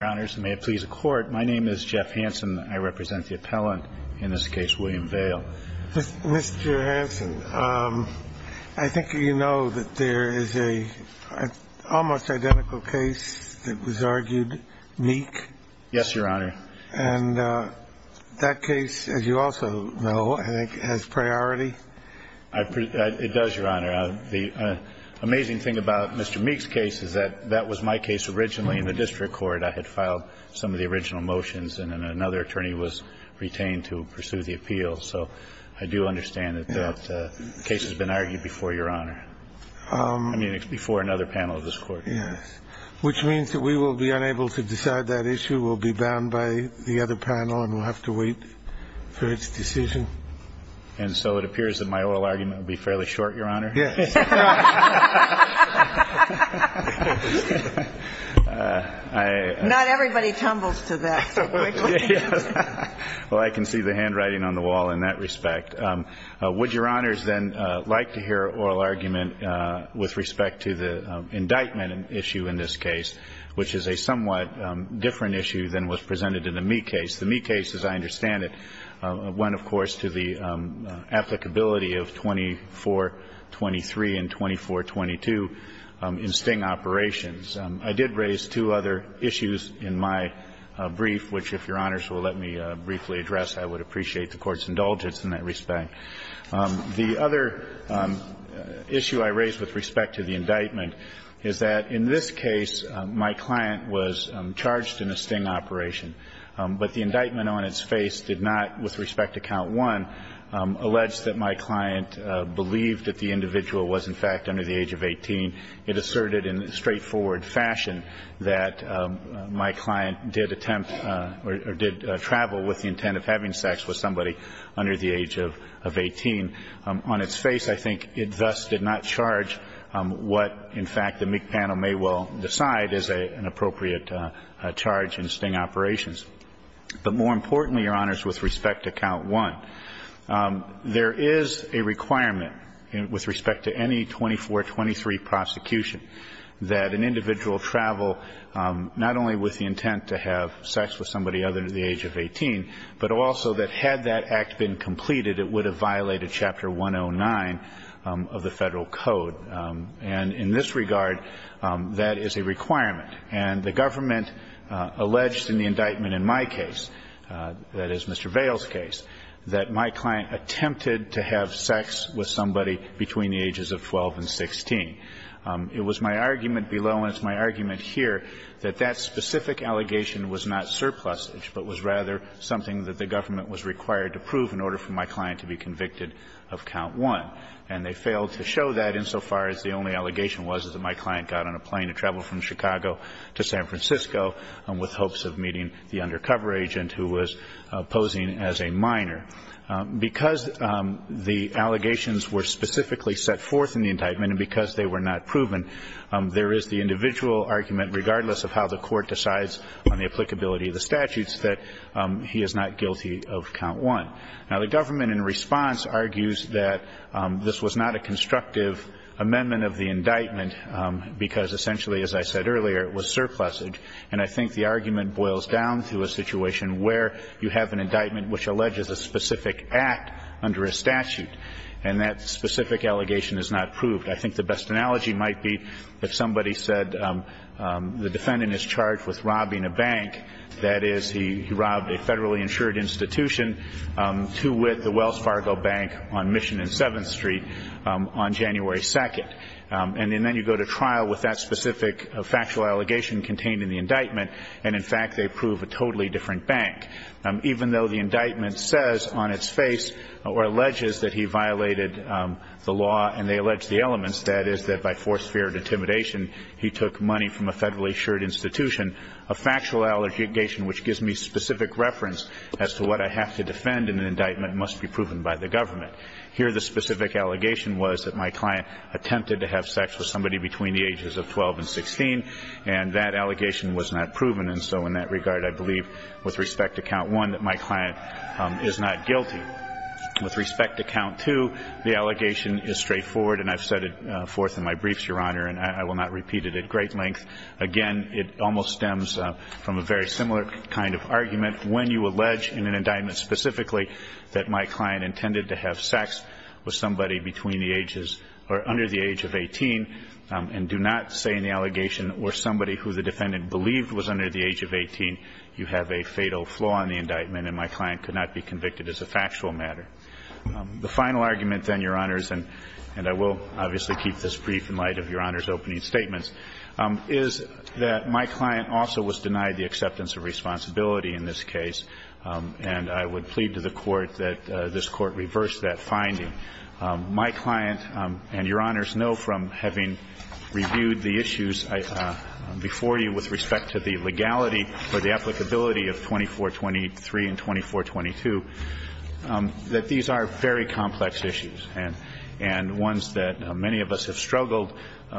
and may it please the Court, my name is Jeff Hansen. I represent the appellant in this case, William Vail. Mr. Hansen, I think you know that there is an almost identical case that was argued, Meek? Yes, Your Honor. And that case, as you also know, I think, has priority? It does, Your Honor. The amazing thing about Mr. Meek's case is that that was my case originally in the district court. I had filed some of the original motions and then another attorney was retained to pursue the appeal. So I do understand that that case has been argued before, Your Honor. I mean, it's before another panel of this Court. Yes. Which means that we will be unable to decide that issue. We'll be bound by the other panel and we'll have to wait for its decision. And so it appears that my oral argument will be fairly short, Your Honor? Yes. Not everybody tumbles to that. Well, I can see the handwriting on the wall in that respect. Would Your Honors then like to hear oral argument with respect to the indictment issue in this case, which is a somewhat different issue than was presented in the Meek case? The Meek case, as I understand it, went, of course, to the applicability of 2423 and 2422 in sting operations. I did raise two other issues in my brief, which, if Your Honors will let me briefly address, I would appreciate the Court's indulgence in that respect. The other issue I raised with respect to the indictment is that in this case, my client was charged in a sting operation, but the indictment on its face did not, with respect to count 1, allege that my client believed that the individual was, in fact, under the age of 18. It asserted in straightforward fashion that my client did attempt or did travel with the intent of having sex with somebody under the age of 18. On its face, I think it thus did not charge what, in fact, the Meek panel may well decide is an appropriate charge in sting operations. But more importantly, Your Honors, with respect to count 1, there is a requirement with respect to any 2423 prosecution that an individual travel not only with the intent to have sex with somebody other than the age of 18, but also that had that act been completed, it would have violated Chapter 109 of the Federal Code. And in this regard, that is a requirement. And the government alleged in the indictment in my case, that is, Mr. Vail's case, that my client attempted to have sex with somebody between the ages of 12 and 16. It was my argument below, and it's my argument here, that that specific allegation was not surplusage, but was rather something that the government was required to prove in order for my client to be convicted of count 1. And they failed to show that insofar as the only allegation was that my client got on a plane to travel from Chicago to San Francisco with hopes of meeting the undercover agent who was posing as a minor. Because the allegations were specifically set forth in the indictment and because they were not proven, there is the individual argument, regardless of how the Court decides on the applicability of the statutes, that he is not guilty of count 1. Now, the government in response argues that this was not a constructive amendment of the indictment, because essentially, as I said earlier, it was surplusage. And I think the argument boils down to a situation where you have an indictment which alleges a specific act under a statute, and that specific allegation is not proved. I think the best analogy might be if somebody said the defendant is charged with robbing a bank, that is, he robbed a federally insured institution to wit the Wells Fargo Bank on Mission and 7th Street on January 2nd. And then you go to trial with that specific factual allegation contained in the indictment, and, in fact, they prove a totally different bank. Even though the indictment says on its face or alleges that he violated the law and they allege the elements, that is, that by force, fear, and intimidation, he took money from a federally insured institution, a factual allegation which gives me specific reference as to what I have to defend in an indictment must be proven by the government. Here the specific allegation was that my client attempted to have sex with somebody between the ages of 12 and 16, and that allegation was not proven. And so in that regard, I believe, with respect to count one, that my client is not guilty. With respect to count two, the allegation is straightforward, and I've said it forth in my briefs, Your Honor, and I will not repeat it at great length. Again, it almost stems from a very similar kind of argument. When you allege in an indictment specifically that my client intended to have sex with somebody between the ages or under the age of 18, and do not say in the allegation or somebody who the defendant believed was under the age of 18, you have a fatal flaw in the indictment and my client could not be convicted as a factual matter. The final argument, then, Your Honors, and I will obviously keep this brief in light of Your Honors' opening statements, is that my client also was denied the acceptance of responsibility in this case, and I would plead to the Court that this Court reverse that finding. My client and Your Honors know from having reviewed the issues before you with respect to the legality or the applicability of 2423 and 2422 that these are very complex issues and ones that many of us have struggled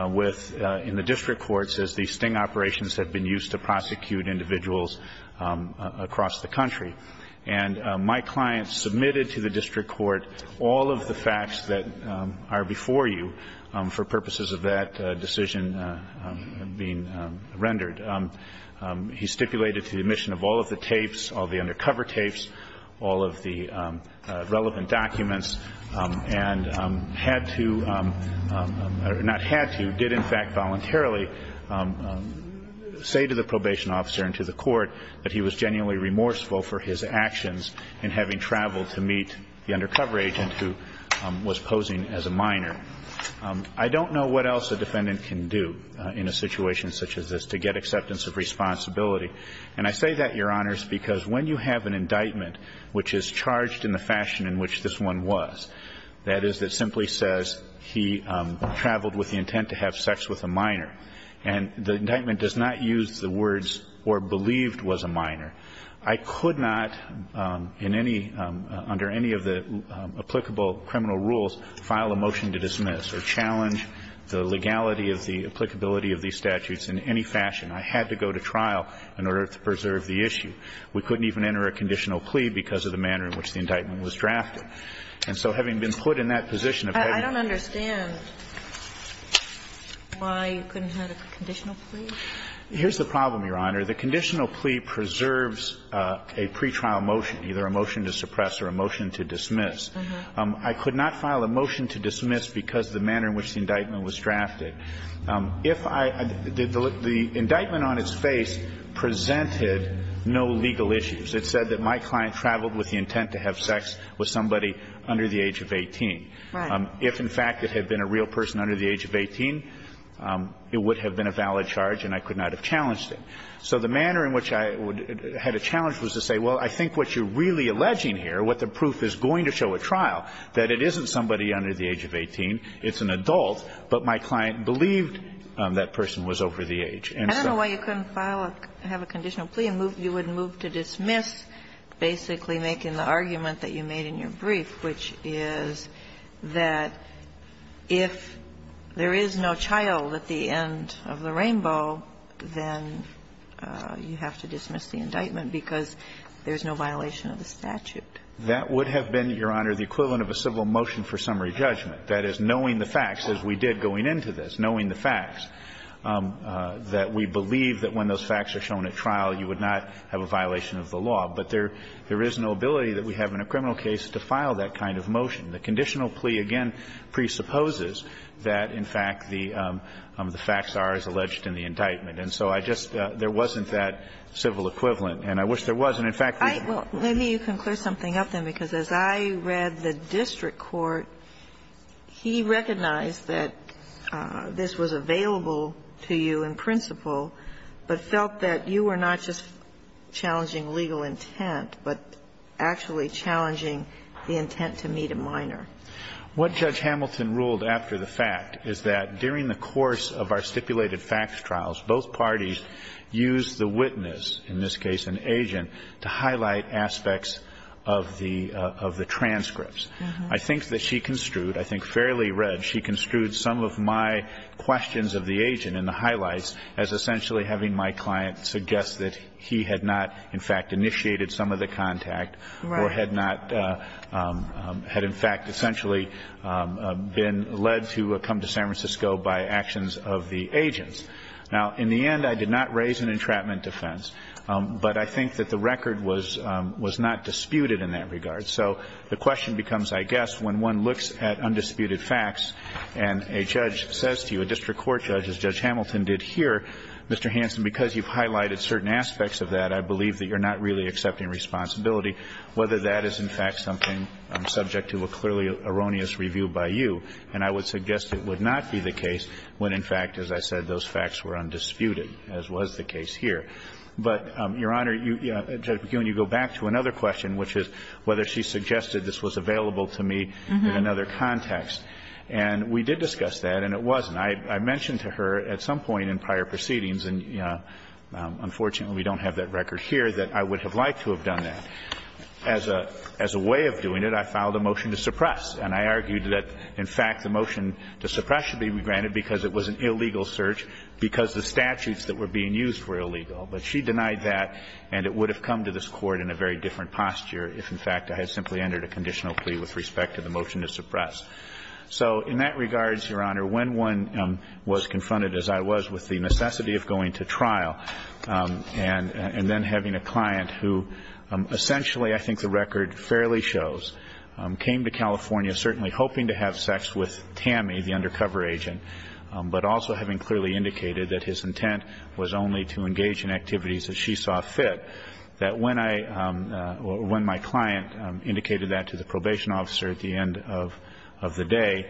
with in the district courts as the sting operations have been used to prosecute individuals across the country. And my client submitted to the district court all of the facts that are before you for purposes of that decision being rendered. He stipulated to the admission of all of the tapes, all of the undercover tapes, all of the relevant documents, and had to or not had to, did in fact voluntarily say to the probation officer and to the court that he was genuinely remorseful for his actions in having traveled to meet the undercover agent who was posing as a minor. I don't know what else a defendant can do in a situation such as this to get acceptance of responsibility. And I say that, Your Honors, because when you have an indictment which is charged in the fashion in which this one was, that is, that simply says he traveled with the intent to have sex with a minor, and the indictment does not use the words or believed was a minor. I could not in any under any of the applicable criminal rules file a motion to dismiss or challenge the legality of the applicability of these statutes in any fashion. I had to go to trial in order to preserve the issue. We couldn't even enter a conditional plea because of the manner in which the indictment was drafted. And so having been put in that position of having to do that. I don't understand why you couldn't have a conditional plea. Here's the problem, Your Honor. The conditional plea preserves a pretrial motion, either a motion to suppress or a motion to dismiss. I could not file a motion to dismiss because of the manner in which the indictment was drafted. If I did the indictment on its face presented no legal issues. It said that my client traveled with the intent to have sex with somebody under the age of 18. Right. If, in fact, it had been a real person under the age of 18, it would have been a valid charge and I could not have challenged it. So the manner in which I had a challenge was to say, well, I think what you're really alleging here, what the proof is going to show at trial, that it isn't somebody under the age of 18. It's an adult. But my client believed that person was over the age. And so. I don't know why you couldn't file a conditional plea and you would move to dismiss basically making the argument that you made in your brief, which is that if there is no child at the end of the rainbow, then you have to dismiss the indictment because there's no violation of the statute. That would have been, Your Honor, the equivalent of a civil motion for summary judgment. That is, knowing the facts, as we did going into this, knowing the facts, that we believe that when those facts are shown at trial, you would not have a violation of the law. But there is no ability that we have in a criminal case to file that kind of motion. The conditional plea, again, presupposes that, in fact, the facts are as alleged in the indictment. And so I just, there wasn't that civil equivalent, and I wish there was. And, in fact, we could. Ginsburg. Well, let me, you can clear something up then, because as I read the district court, he recognized that this was available to you in principle, but felt that you were not just challenging legal intent, but actually challenging the intent to meet a minor. What Judge Hamilton ruled after the fact is that during the course of our stipulated facts trials, both parties used the witness, in this case an agent, to highlight aspects of the, of the transcripts. I think that she construed, I think fairly read, she construed some of my questions of the agent in the highlights as essentially having my client suggest that he had not, in fact, initiated some of the contact, or had not, had, in fact, essentially been led to come to San Francisco by actions of the agents. Now, in the end, I did not raise an entrapment defense, but I think that the record was, was not disputed in that regard. So the question becomes, I guess, when one looks at undisputed facts, and a judge says to you, a district court judge, as Judge Hamilton did here, Mr. Hanson, because you've highlighted certain aspects of that, I believe that you're not really accepting responsibility, whether that is, in fact, something subject to a clearly erroneous review by you, and I would suggest it would not be the case when, in fact, as I said, those facts were undisputed, as was the case here. But, Your Honor, you, Judge McKeown, you go back to another question, which is whether she suggested this was available to me in another context, and we did discuss that, and it wasn't. I mentioned to her at some point in prior proceedings, and, you know, unfortunately we don't have that record here, that I would have liked to have done that. As a way of doing it, I filed a motion to suppress, and I argued that, in fact, the motion to suppress should be granted because it was an illegal search, because the statutes that were being used were illegal. But she denied that, and it would have come to this Court in a very different posture if, in fact, I had simply entered a conditional plea with respect to the motion to suppress. So in that regards, Your Honor, when one was confronted, as I was, with the necessity of going to trial and then having a client who essentially, I think the record fairly shows, came to California certainly hoping to have sex with Tammy, the undercover agent, but also having clearly indicated that his intent was only to engage in activities that she saw fit, that when I or when my client indicated that to the probation officer at the end of the day,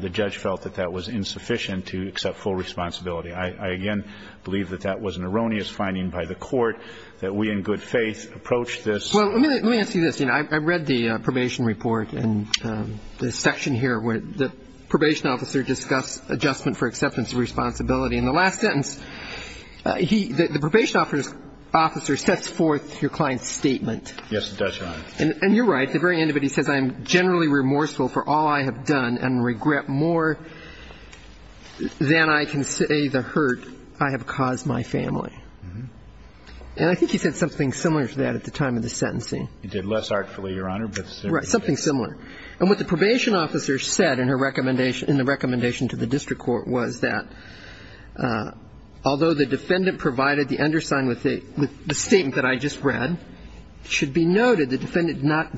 the judge felt that that was insufficient to accept full responsibility. I again believe that that was an erroneous finding by the Court, that we in good faith approached this. Well, let me ask you this. I read the probation report, and the section here where the probation officer discuss adjustment for acceptance of responsibility. In the last sentence, the probation officer sets forth your client's statement. Yes, it does, Your Honor. And you're right. At the very end of it, he says, I'm generally remorseful for all I have done and regret more than I can say the hurt I have caused my family. And I think he said something similar to that at the time of the sentencing. He did less artfully, Your Honor, but something similar. And what the probation officer said in her recommendation to the district court was that although the defendant provided the undersign with the statement that I just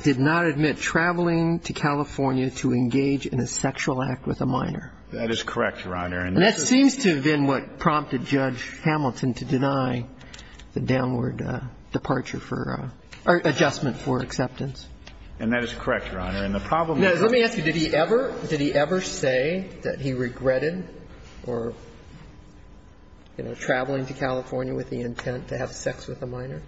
did not admit traveling to California to engage in a sexual act with a minor. That is correct, Your Honor. And that seems to have been what prompted Judge Hamilton to deny the downward departure for or adjustment for acceptance. And that is correct, Your Honor. And the problem is that he ever did he ever say that he regretted or, you know, traveling to California with the intent to have sex with a minor?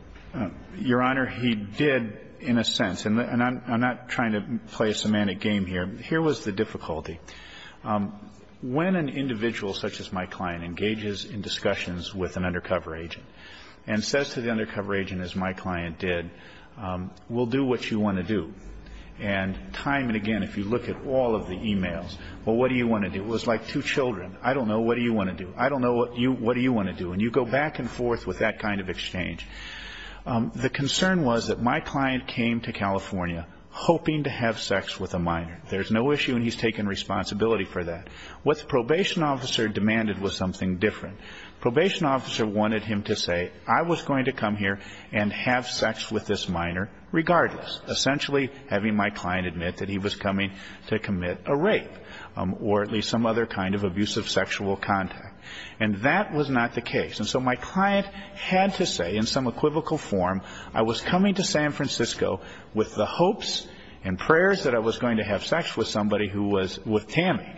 Your Honor, he did in a sense. And I'm not trying to play a semantic game here. Here was the difficulty. When an individual such as my client engages in discussions with an undercover agent and says to the undercover agent, as my client did, we'll do what you want to do, and time and again, if you look at all of the e-mails, well, what do you want to do? It was like two children, I don't know, what do you want to do? I don't know, what do you want to do? And you go back and forth with that kind of exchange. The concern was that my client came to California hoping to have sex with a minor. There's no issue and he's taken responsibility for that. What the probation officer demanded was something different. Probation officer wanted him to say, I was going to come here and have sex with this minor regardless, essentially having my client admit that he was coming to commit a rape or at least some other kind of abusive sexual contact. And that was not the case. And so my client had to say in some equivocal form, I was coming to San Francisco with the hopes and prayers that I was going to have sex with somebody who was with Tammy.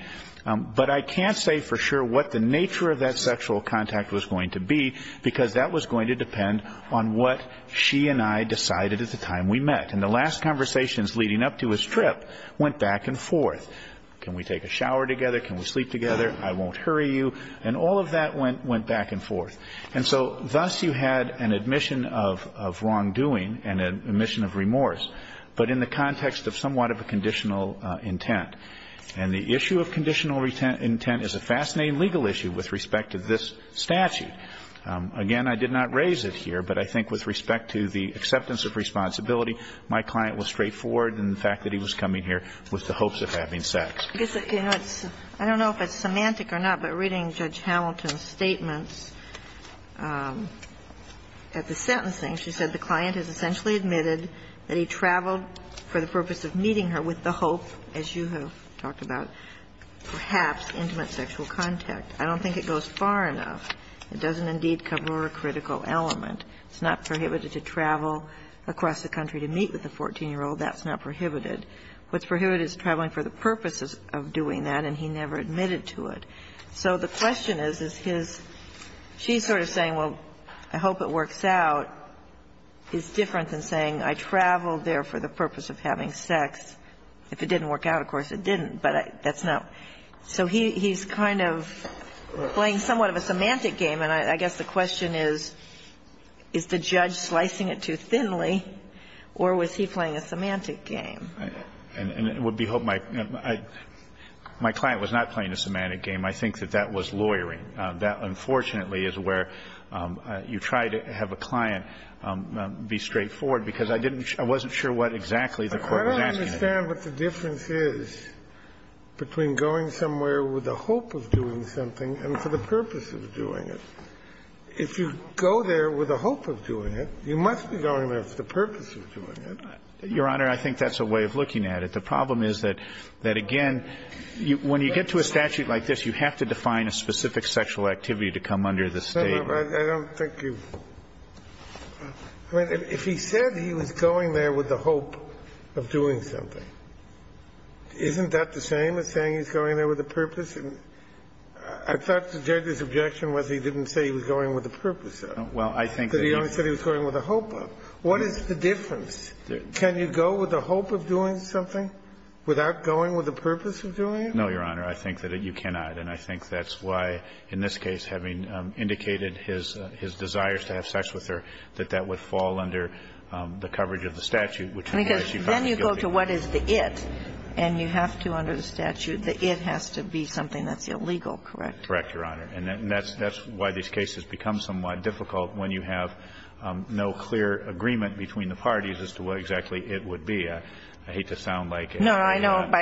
But I can't say for sure what the nature of that sexual contact was going to be because that was going to depend on what she and I decided at the time we met. And the last conversations leading up to his trip went back and forth. Can we take a shower together? Can we sleep together? I won't hurry you. And all of that went back and forth. And so thus you had an admission of wrongdoing and an admission of remorse, but in the context of somewhat of a conditional intent. And the issue of conditional intent is a fascinating legal issue with respect to this statute. Again, I did not raise it here, but I think with respect to the acceptance of responsibility, my client was straightforward in the fact that he was coming here with the hopes of having sex. I don't know if it's semantic or not, but reading Judge Hamilton's statements at the sentencing, she said the client has essentially admitted that he traveled for the purpose of meeting her with the hope, as you have talked about, perhaps intimate sexual contact. I don't think it goes far enough. It doesn't indeed cover a critical element. It's not prohibited to travel across the country to meet with a 14-year-old. That's not prohibited. What's prohibited is traveling for the purpose of doing that, and he never admitted to it. So the question is, is his – she's sort of saying, well, I hope it works out. It's different than saying I traveled there for the purpose of having sex. If it didn't work out, of course it didn't, but that's not – so he's kind of playing somewhat of a semantic game, and I guess the question is, is the judge slicing it too thinly, or was he playing a semantic game? And it would behove my – my client was not playing a semantic game. I think that that was lawyering. That, unfortunately, is where you try to have a client be straightforward, because I didn't – I wasn't sure what exactly the Court was asking. I don't understand what the difference is between going somewhere with the hope of doing something and for the purpose of doing it. If you go there with the hope of doing it, you must be going there for the purpose of doing it. Your Honor, I think that's a way of looking at it. The problem is that – that, again, when you get to a statute like this, you have to define a specific sexual activity to come under the State. I don't think you've – I mean, if he said he was going there with the hope of doing something, isn't that the same as saying he's going there with a purpose? I thought the judge's objection was he didn't say he was going with a purpose of it. Well, I think the judge – But he only said he was going with a hope of it. What is the difference? Can you go with a hope of doing something without going with a purpose of doing it? No, Your Honor. I think that you cannot. And I think that's why, in this case, having indicated his – his desires to have sex with her, that that would fall under the coverage of the statute, which is where she found her guilty. Because then you go to what is the it, and you have to, under the statute, the it has to be something that's illegal, correct? Correct, Your Honor. And that's why these cases become somewhat difficult when you have no clear agreement between the parties as to what exactly it would be. I hate to sound like a past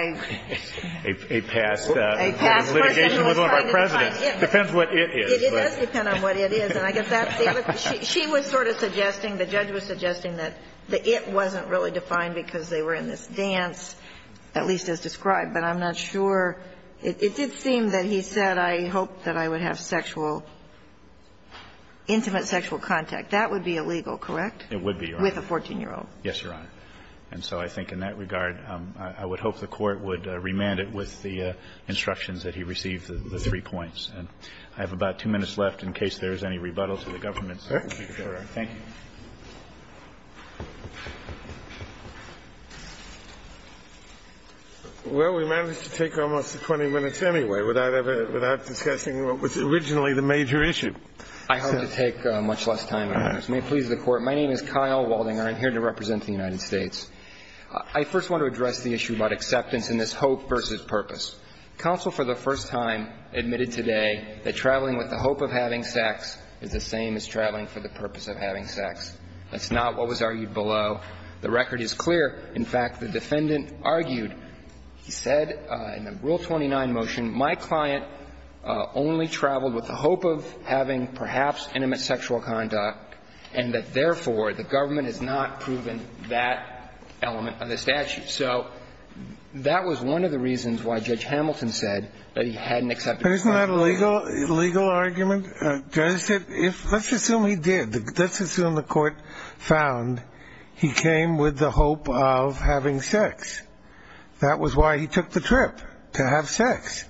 litigation with one of our presidents. It depends what it is. It does depend on what it is. And I guess that's the other thing. She was sort of suggesting, the judge was suggesting that the it wasn't really defined because they were in this dance, at least as described. But I'm not sure. It did seem that he said, I hope that I would have sexual – intimate sexual contact. That would be illegal, correct? It would be, Your Honor. With a 14-year-old. Yes, Your Honor. And so I think in that regard, I would hope the Court would remand it with the instructions that he received, the three points. I have about two minutes left in case there is any rebuttal to the government. Thank you. Well, we managed to take almost 20 minutes anyway without ever – without discussing what was originally the major issue. I hope to take much less time. May it please the Court. My name is Kyle Waldinger. I'm here to represent the United States. I first want to address the issue about acceptance in this hope versus purpose. Counsel for the first time admitted today that traveling with the hope of having sex is the same as traveling for the purpose of having sex. That's not what was argued below. The record is clear. In fact, the defendant argued, he said in the Rule 29 motion, my client only traveled with the hope of having perhaps intimate sexual conduct and that, therefore, the government has not proven that element of the statute. So that was one of the reasons why Judge Hamilton said that he hadn't accepted sex. Isn't that a legal argument? Let's assume he did. Let's assume the Court found he came with the hope of having sex. That was why he took the trip, to have sex.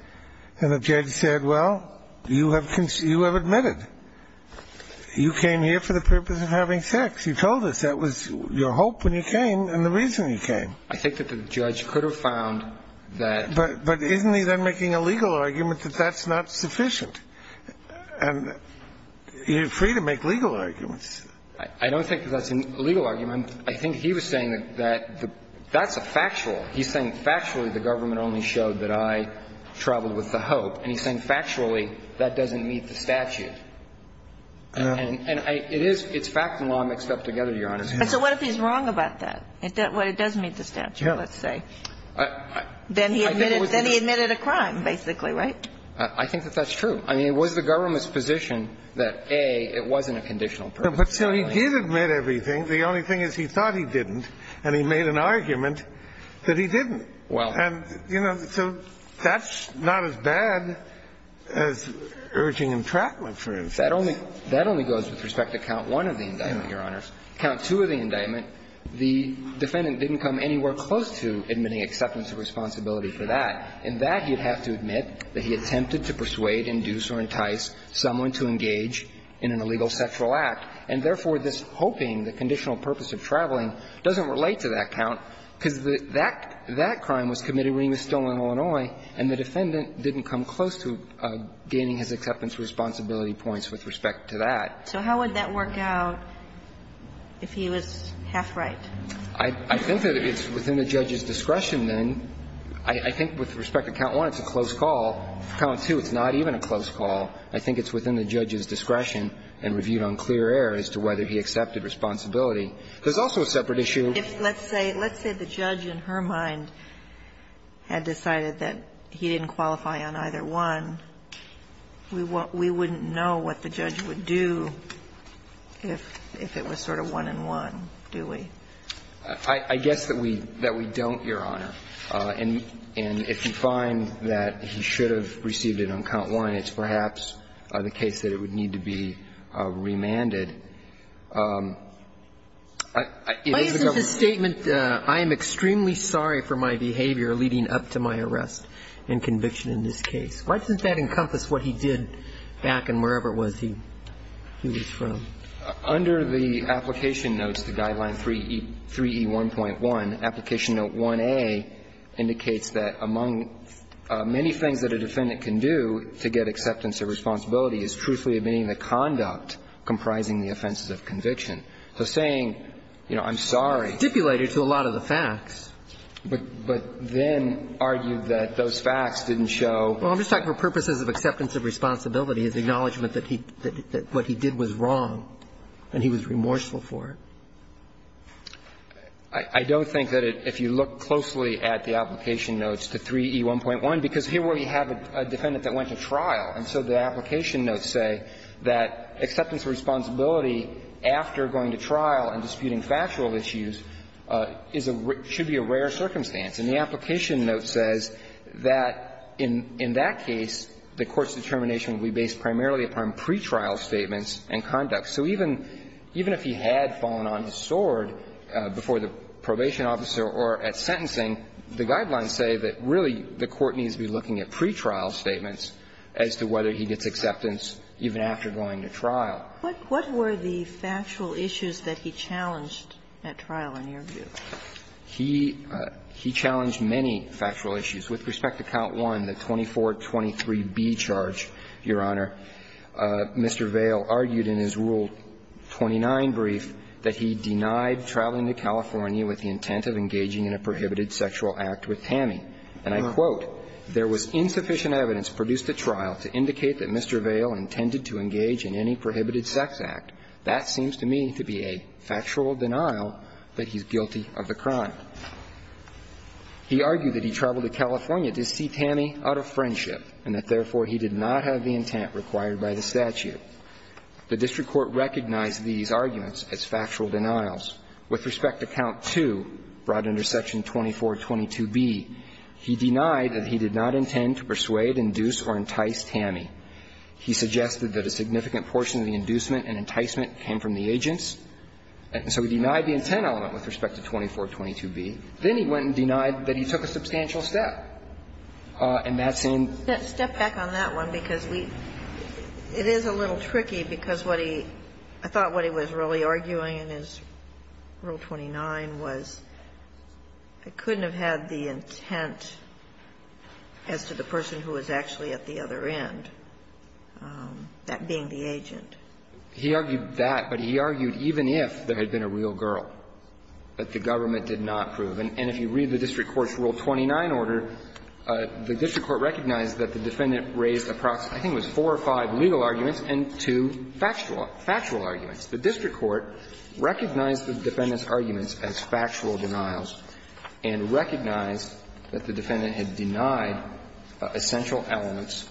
And the judge said, well, you have admitted. You came here for the purpose of having sex. You told us that was your hope when you came and the reason you came. I think that the judge could have found that. But isn't he then making a legal argument that that's not sufficient? And you're free to make legal arguments. I don't think that's a legal argument. I think he was saying that that's a factual. He's saying factually the government only showed that I traveled with the hope. And he's saying factually that doesn't meet the statute. And I – it is – it's fact and law mixed up together, Your Honor. And so what if he's wrong about that? What, it does meet the statute, let's say. Then he admitted – then he admitted a crime, basically, right? I think that that's true. I mean, it was the government's position that, A, it wasn't a conditional purpose. But so he did admit everything. The only thing is he thought he didn't, and he made an argument that he didn't. And, you know, so that's not as bad as urging entrapment, for instance. That only goes with respect to count one of the indictment, Your Honor. Count two of the indictment, the defendant didn't come anywhere close to admitting acceptance of responsibility for that. In that, he'd have to admit that he attempted to persuade, induce, or entice someone to engage in an illegal sexual act. And therefore, this hoping, the conditional purpose of traveling, doesn't relate to that count, because that – that crime was committed when he was still in Illinois, and the defendant didn't come close to gaining his acceptance responsibility points with respect to that. So how would that work out if he was half right? I think that it's within the judge's discretion, then. I think with respect to count one, it's a close call. For count two, it's not even a close call. I think it's within the judge's discretion and reviewed on clear air as to whether he accepted responsibility. There's also a separate issue. If, let's say, let's say the judge in her mind had decided that he didn't qualify on either one, we wouldn't know what the judge would do if it was sort of one-on-one, do we? I guess that we don't, Your Honor. And if you find that he should have received it on count one, it's perhaps the case that it would need to be remanded. It is the government's case. Why isn't the statement, I am extremely sorry for my behavior leading up to my arrest and conviction in this case, why doesn't that encompass what he did back in wherever it was he was from? Under the application notes to Guideline 3E1.1, application note 1A indicates that among many things that a defendant can do to get acceptance of responsibility is truthfully admitting the conduct comprising the offenses of conviction. So saying, you know, I'm sorry. Dipulated to a lot of the facts. But then argued that those facts didn't show. Well, I'm just talking for purposes of acceptance of responsibility, of acknowledgment that what he did was wrong, and he was remorseful for it. I don't think that if you look closely at the application notes to 3E1.1, because here we have a defendant that went to trial, and so the application notes say that acceptance of responsibility after going to trial and disputing factual issues is a rare – should be a rare circumstance. And the application note says that in that case, the court's determination would be based primarily upon pretrial statements and conduct. So even if he had fallen on his sword before the probation officer or at sentencing, the Guidelines say that really the court needs to be looking at pretrial statements as to whether he gets acceptance even after going to trial. What were the factual issues that he challenged at trial, in your view? He challenged many factual issues. With respect to Count 1, the 2423B charge, Your Honor, Mr. Vail argued in his Rule 29 brief that he denied traveling to California with the intent of engaging in a prohibited sexual act with Tammy. And I quote, "...there was insufficient evidence produced at trial to indicate that Mr. Vail intended to engage in any prohibited sex act. That seems to me to be a factual denial that he's guilty of the crime." He argued that he traveled to California to see Tammy out of friendship and that, therefore, he did not have the intent required by the statute. The district court recognized these arguments as factual denials. With respect to Count 2, brought under Section 2422B, he denied that he did not intend to persuade, induce or entice Tammy. He suggested that a significant portion of the inducement and enticement came from the agents. So he denied the intent element with respect to 2422B. Then he went and denied that he took a substantial step in that same. Step back on that one, because we – it is a little tricky, because what he – I thought what he was really arguing in his Rule 29 was it couldn't have had the intent as to the person who was actually at the other end, that being the agent. He argued that, but he argued even if there had been a real girl, that the government did not prove. And if you read the district court's Rule 29 order, the district court recognized that the defendant raised approximately, I think it was four or five legal arguments and two factual arguments. The district court recognized the defendant's arguments as factual denials and recognized that the defendant had denied essential elements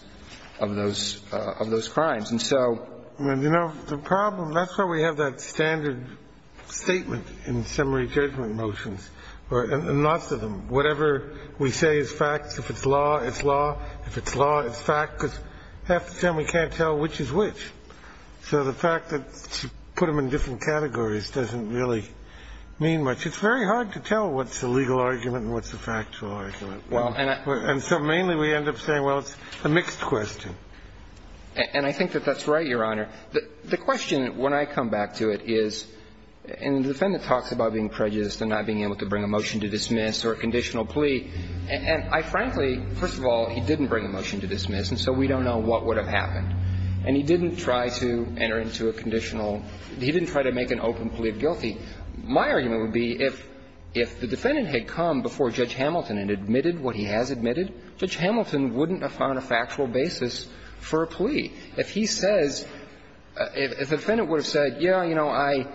of those crimes. And so the problem – that's why we have that standard statement in the summary judgment motions, and lots of them, whatever we say is fact, if it's law, it's law. If it's law, it's fact, because half the time we can't tell which is which. So the fact that you put them in different categories doesn't really mean much. It's very hard to tell what's a legal argument and what's a factual argument. And so mainly we end up saying, well, it's a mixed question. And I think that that's right, Your Honor. The question, when I come back to it, is – and the defendant talks about being prejudiced and not being able to bring a motion to dismiss or a conditional plea. And I frankly – first of all, he didn't bring a motion to dismiss, and so we don't know what would have happened. And he didn't try to enter into a conditional – he didn't try to make an open plea of guilty. My argument would be if the defendant had come before Judge Hamilton and admitted what he has admitted, Judge Hamilton wouldn't have found a factual basis for a plea. If he says – if the defendant would have said, yeah, you know, I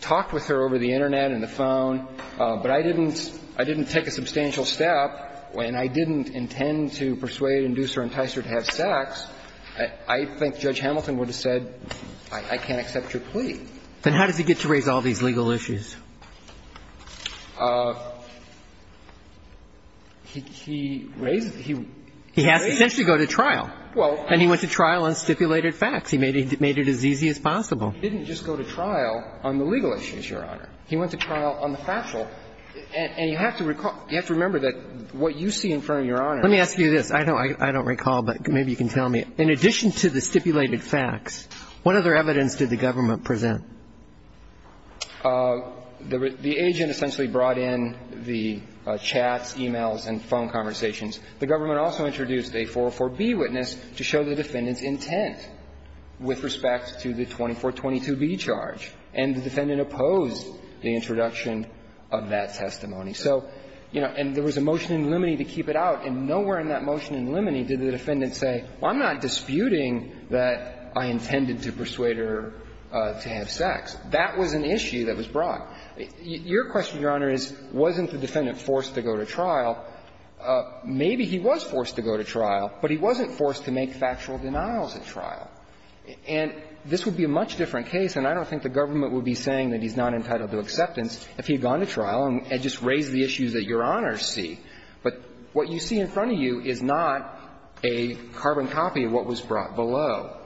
talked with her over the Internet and the phone, but I didn't – I didn't take a substantial step, and I didn't intend to persuade, induce, or entice her to have sex, I think Judge Hamilton would have said, I can't accept your plea. Then how does he get to raise all these legal issues? He raises – he raises them. He has to essentially go to trial. And he went to trial on stipulated facts. He made it as easy as possible. He didn't just go to trial on the legal issues, Your Honor. He went to trial on the factual. And you have to recall – you have to remember that what you see in front of Your Honor – Let me ask you this. I don't recall, but maybe you can tell me. In addition to the stipulated facts, what other evidence did the government present? The agent essentially brought in the chats, e-mails, and phone conversations. The government also introduced a 404b witness to show the defendant's intent with respect to the 2422b charge. And the defendant opposed the introduction of that testimony. So, you know, and there was a motion in limine to keep it out, and nowhere in that motion in limine did the defendant say, well, I'm not disputing that I intended to persuade her to have sex. That was an issue that was brought. Your question, Your Honor, is wasn't the defendant forced to go to trial? Maybe he was forced to go to trial, but he wasn't forced to make factual denials at trial. And this would be a much different case, and I don't think the government would be saying that he's not entitled to acceptance if he had gone to trial and just raised the issues that Your Honors see. But what you see in front of you is not a carbon copy of what was brought below.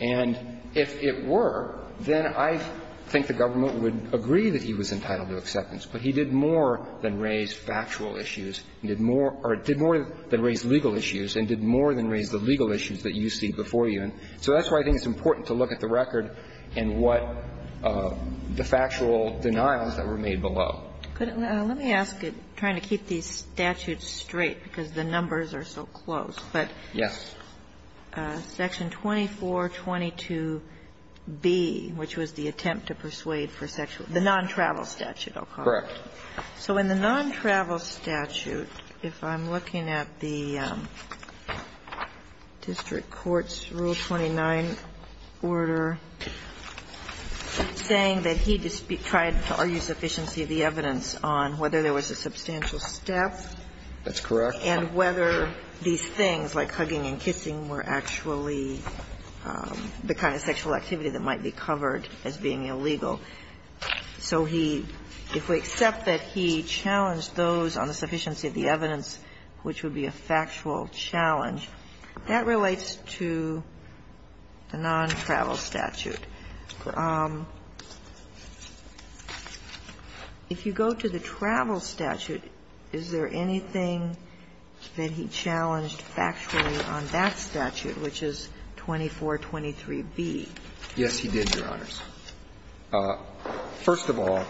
And if it were, then I think the government would agree that he was entitled to acceptance. But he did more than raise factual issues and did more or did more than raise legal issues and did more than raise the legal issues that you see before you. And so that's why I think it's important to look at the record and what the factual denials that were made below. Let me ask it, trying to keep these statutes straight, because the numbers are so close. But section 2422b, which was the attempt to persuade for sexual the non-travel statute, I'll call it. Correct. So in the non-travel statute, if I'm looking at the district court's Rule 29 order saying that he tried to argue sufficiency of the evidence on whether there was a substantial step. That's correct. And whether these things like hugging and kissing were actually the kind of sexual activity that might be covered as being illegal. So he, if we accept that he challenged those on the sufficiency of the evidence, which would be a factual challenge, that relates to the non-travel statute. If you go to the travel statute, is there anything that he challenged factually on that statute, which is 2423b? Yes, he did, Your Honors. First of all,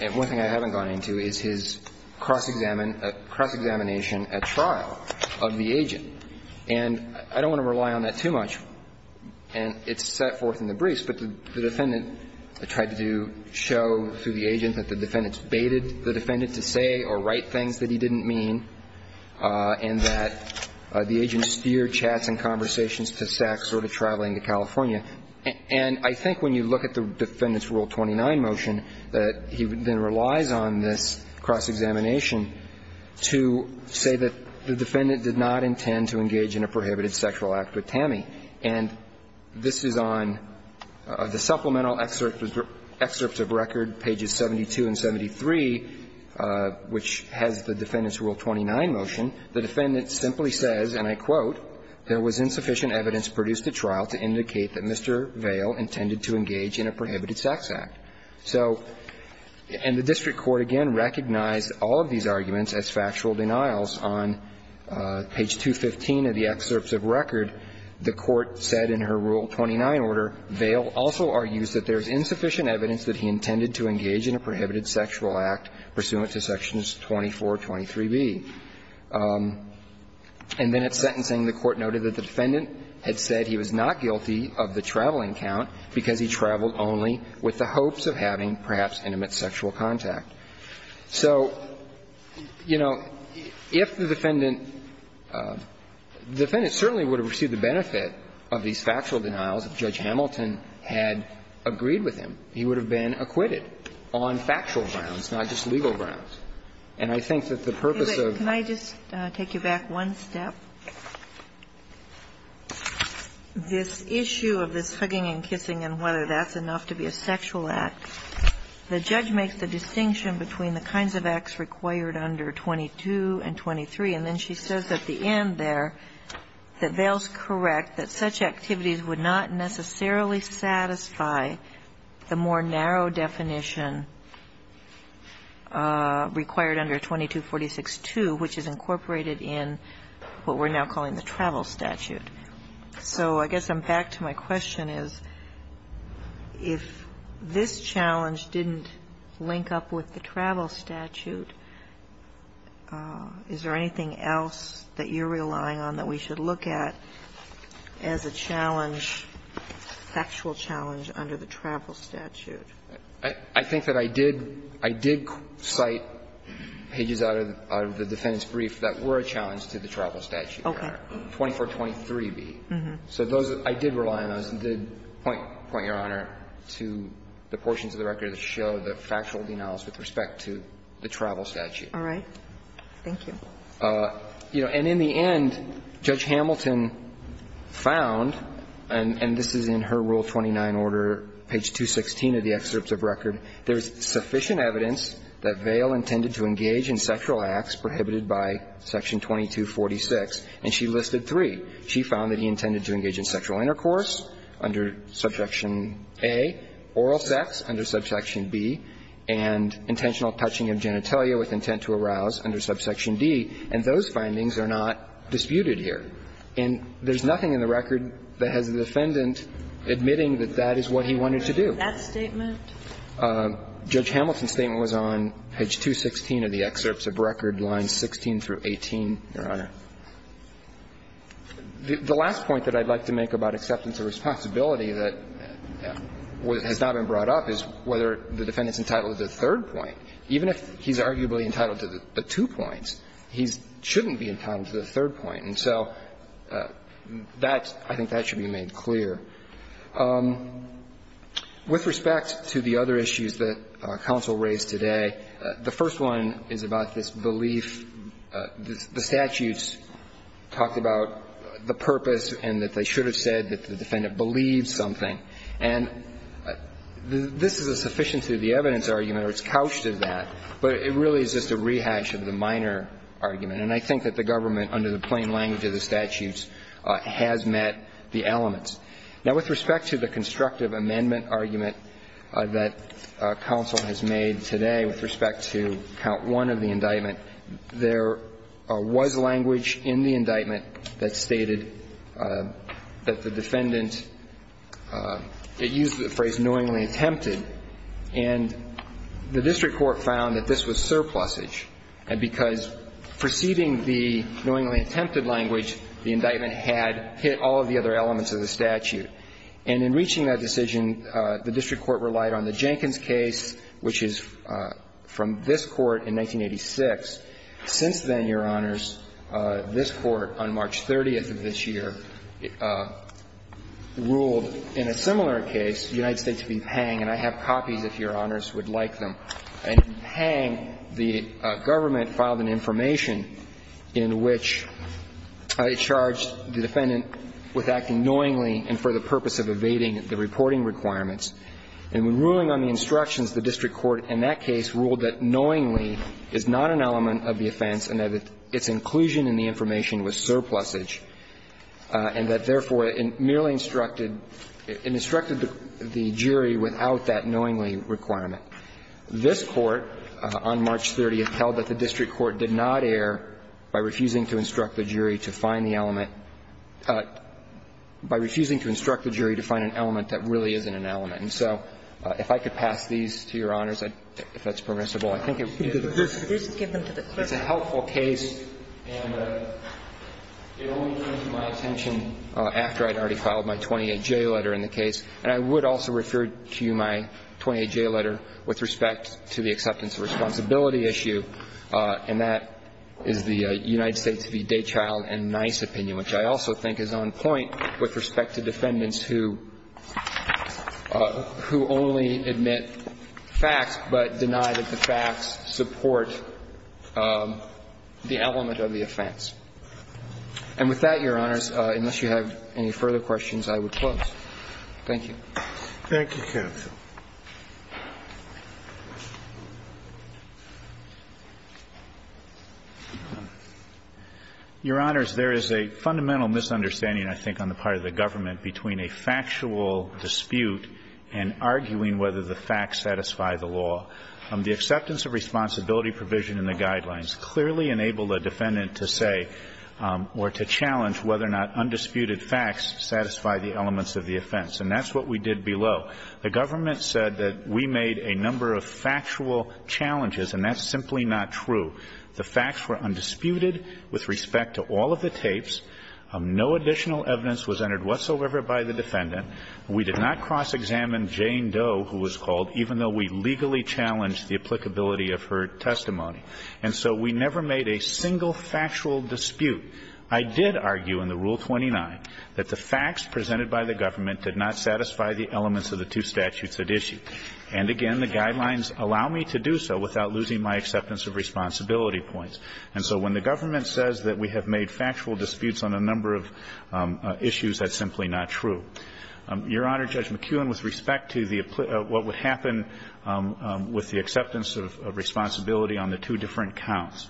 and one thing I haven't gone into, is his cross-examination at trial of the agent. And I don't want to rely on that too much, and it's set forth in the briefs, but the defendant tried to show through the agent that the defendant's baited the defendant to say or write things that he didn't mean, and that the agent steered chats and conversations to sex or to traveling to California. And I think when you look at the defendant's Rule 29 motion, that he then relies on this cross-examination to say that the defendant did not intend to engage in a prohibited sexual act with Tammy. And this is on the supplemental excerpt of record, pages 72 and 73, which has the defendant's Rule 29 motion. The defendant simply says, and I quote, And the district court, again, recognized all of these arguments as factual denials. On page 215 of the excerpts of record, the Court said in her Rule 29 order, Vail also argues that there is insufficient evidence that he intended to engage in a prohibited sexual act pursuant to sections 2423b. And then at sentencing, the Court noted that the defendant had said he was not guilty of the traveling count because he traveled only with the hopes of having perhaps intimate sexual contact. So, you know, if the defendant – the defendant certainly would have received the benefit of these factual denials if Judge Hamilton had agreed with him. He would have been acquitted on factual grounds, not just legal grounds. And I think that the purpose of – Can I just take you back one step? This issue of this hugging and kissing and whether that's enough to be a sexual act, the judge makes the distinction between the kinds of acts required under 22 and 23, and then she says at the end there that Vail's correct, that such activities would not necessarily satisfy the more narrow definition required under 2246-2, which is incorporated in what we're now calling the travel statute. So I guess I'm back to my question is, if this challenge didn't link up with the travel statute, is there anything else that you're relying on that we should look at as a challenge – factual challenge under the travel statute? I think that I did – I did cite pages out of the defendant's brief that were a challenge to the travel statute. Okay. 2423b. So those – I did rely on those and did point, Your Honor, to the portions of the record that show the factual denials with respect to the travel statute. All right. Thank you. And in the end, Judge Hamilton found, and this is in her Rule 29 order, page 216 of the excerpts of record, there's sufficient evidence that Vail intended to engage in sexual acts prohibited by section 2246, and she listed three. She found that he intended to engage in sexual intercourse under subsection A, oral sex under subsection B, and intentional touching of genitalia with intent to arouse under subsection D, and those findings are not disputed here. And there's nothing in the record that has the defendant admitting that that is what he wanted to do. Was that statement? Judge Hamilton's statement was on page 216 of the excerpts of record, lines 16 through 18, Your Honor. The last point that I'd like to make about acceptance of responsibility that has not been brought up is whether the defendant's entitled to the third point. Even if he's arguably entitled to the two points, he shouldn't be entitled to the third point. And so that's – I think that should be made clear. With respect to the other issues that counsel raised today, the first one is about this belief, the statutes talked about the purpose and that they should have said that the defendant believes something. And this is a sufficiency of the evidence argument, or it's couched in that, but it really is just a rehash of the minor argument. And I think that the government, under the plain language of the statutes, has met the elements. Now, with respect to the constructive amendment argument that counsel has made today with respect to count one of the indictment, there was language in the indictment that stated that the defendant – it used the phrase knowingly attempted. And the district court found that this was surplusage, because preceding the knowingly attempted language, the indictment had hit all of the other elements of the statute. And in reaching that decision, the district court relied on the Jenkins case, which is from this Court in 1986. Since then, Your Honors, this Court on March 30th of this year ruled in a similar case, United States v. Pang, and I have copies if Your Honors would like them. In Pang, the government filed an information in which it charged the defendant with acting knowingly and for the purpose of evading the reporting requirements. And when ruling on the instructions, the district court in that case ruled that knowingly is not an element of the offense and that its inclusion in the information was surplusage, and that, therefore, it merely instructed – it instructed the jury without that knowingly requirement. This Court on March 30th held that the district court did not err by refusing to instruct the jury to find the element – by refusing to instruct the jury to find an element that really isn't an element. And so if I could pass these to Your Honors, if that's permissible. I think it's a helpful case, and it only came to my attention after I'd already filed my 28J letter in the case. And I would also refer to you my 28J letter with respect to the acceptance of responsibility issue, and that is the United States v. Daychild and Nice opinion, which I also think is on point with respect to defendants who only admit facts but deny that the facts support the element of the offense. And with that, Your Honors, unless you have any further questions, I would close. Thank you. Thank you, counsel. Your Honors, there is a fundamental misunderstanding, I think, on the part of the government between a factual dispute and arguing whether the facts satisfy the law. The acceptance of responsibility provision in the guidelines clearly enabled a defendant to say or to challenge whether or not undisputed facts satisfy the elements of the offense, and that's what we did below. The government said that we made a number of factual challenges, and that's simply not true. The facts were undisputed with respect to all of the tapes. No additional evidence was entered whatsoever by the defendant. We did not cross-examine Jane Doe, who was called, even though we legally challenged the applicability of her testimony. And so we never made a single factual dispute. I did argue in the Rule 29 that the facts presented by the government did not satisfy the elements of the two statutes at issue. And again, the guidelines allow me to do so without losing my acceptance of responsibility points. And so when the government says that we have made factual disputes on a number of issues, that's simply not true. Your Honor, Judge McKeown, with respect to the what would happen with the acceptance of responsibility on the two different counts,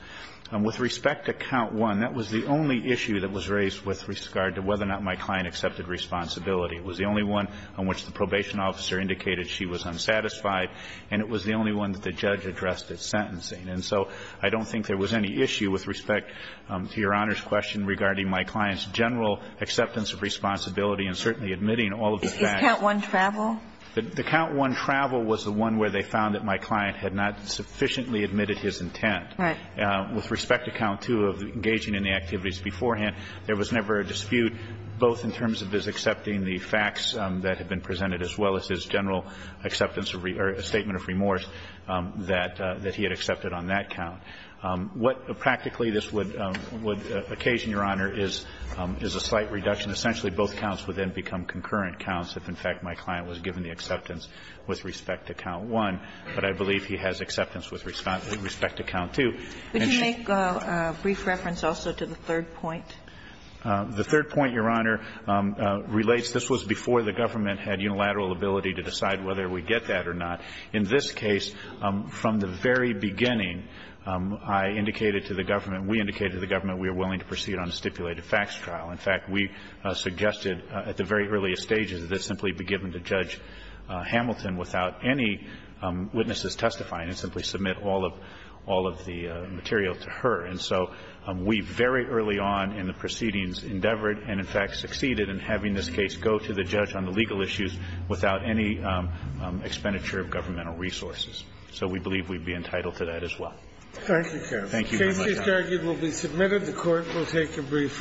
with respect to count one, that was the only issue that was raised with regard to whether or not my client accepted responsibility. It was the only one on which the probation officer indicated she was unsatisfied, and it was the only one that the judge addressed at sentencing. And so I don't think there was any issue with respect to Your Honor's question regarding my client's general acceptance of responsibility and certainly admitting all of the facts. The count one travel was the one where they found that my client had not sufficiently admitted his intent. With respect to count two of engaging in the activities beforehand, there was never a dispute, both in terms of his accepting the facts that had been presented as well as his general acceptance or statement of remorse that he had accepted on that count. What practically this would occasion, Your Honor, is a slight reduction. Essentially, both counts would then become concurrent counts if, in fact, my client was given the acceptance with respect to count one. But I believe he has acceptance with respect to count two. And she's going to be able to make a brief reference also to the third point. The third point, Your Honor, relates, this was before the government had unilateral ability to decide whether we get that or not. In this case, from the very beginning, I indicated to the government, we indicated to the government we are willing to proceed on a stipulated facts trial. In fact, we suggested at the very earliest stages that it simply be given to Judge Hamilton without any witnesses testifying and simply submit all of the material to her. And so we very early on in the proceedings endeavored and, in fact, succeeded in having this case go to the judge on the legal issues without any expenditure of governmental resources. So we believe we'd be entitled to that as well. Thank you, Your Honor. Thank you, Mr. Duggan. The case, Mr. Duggan, will be submitted. The Court will take a brief recess.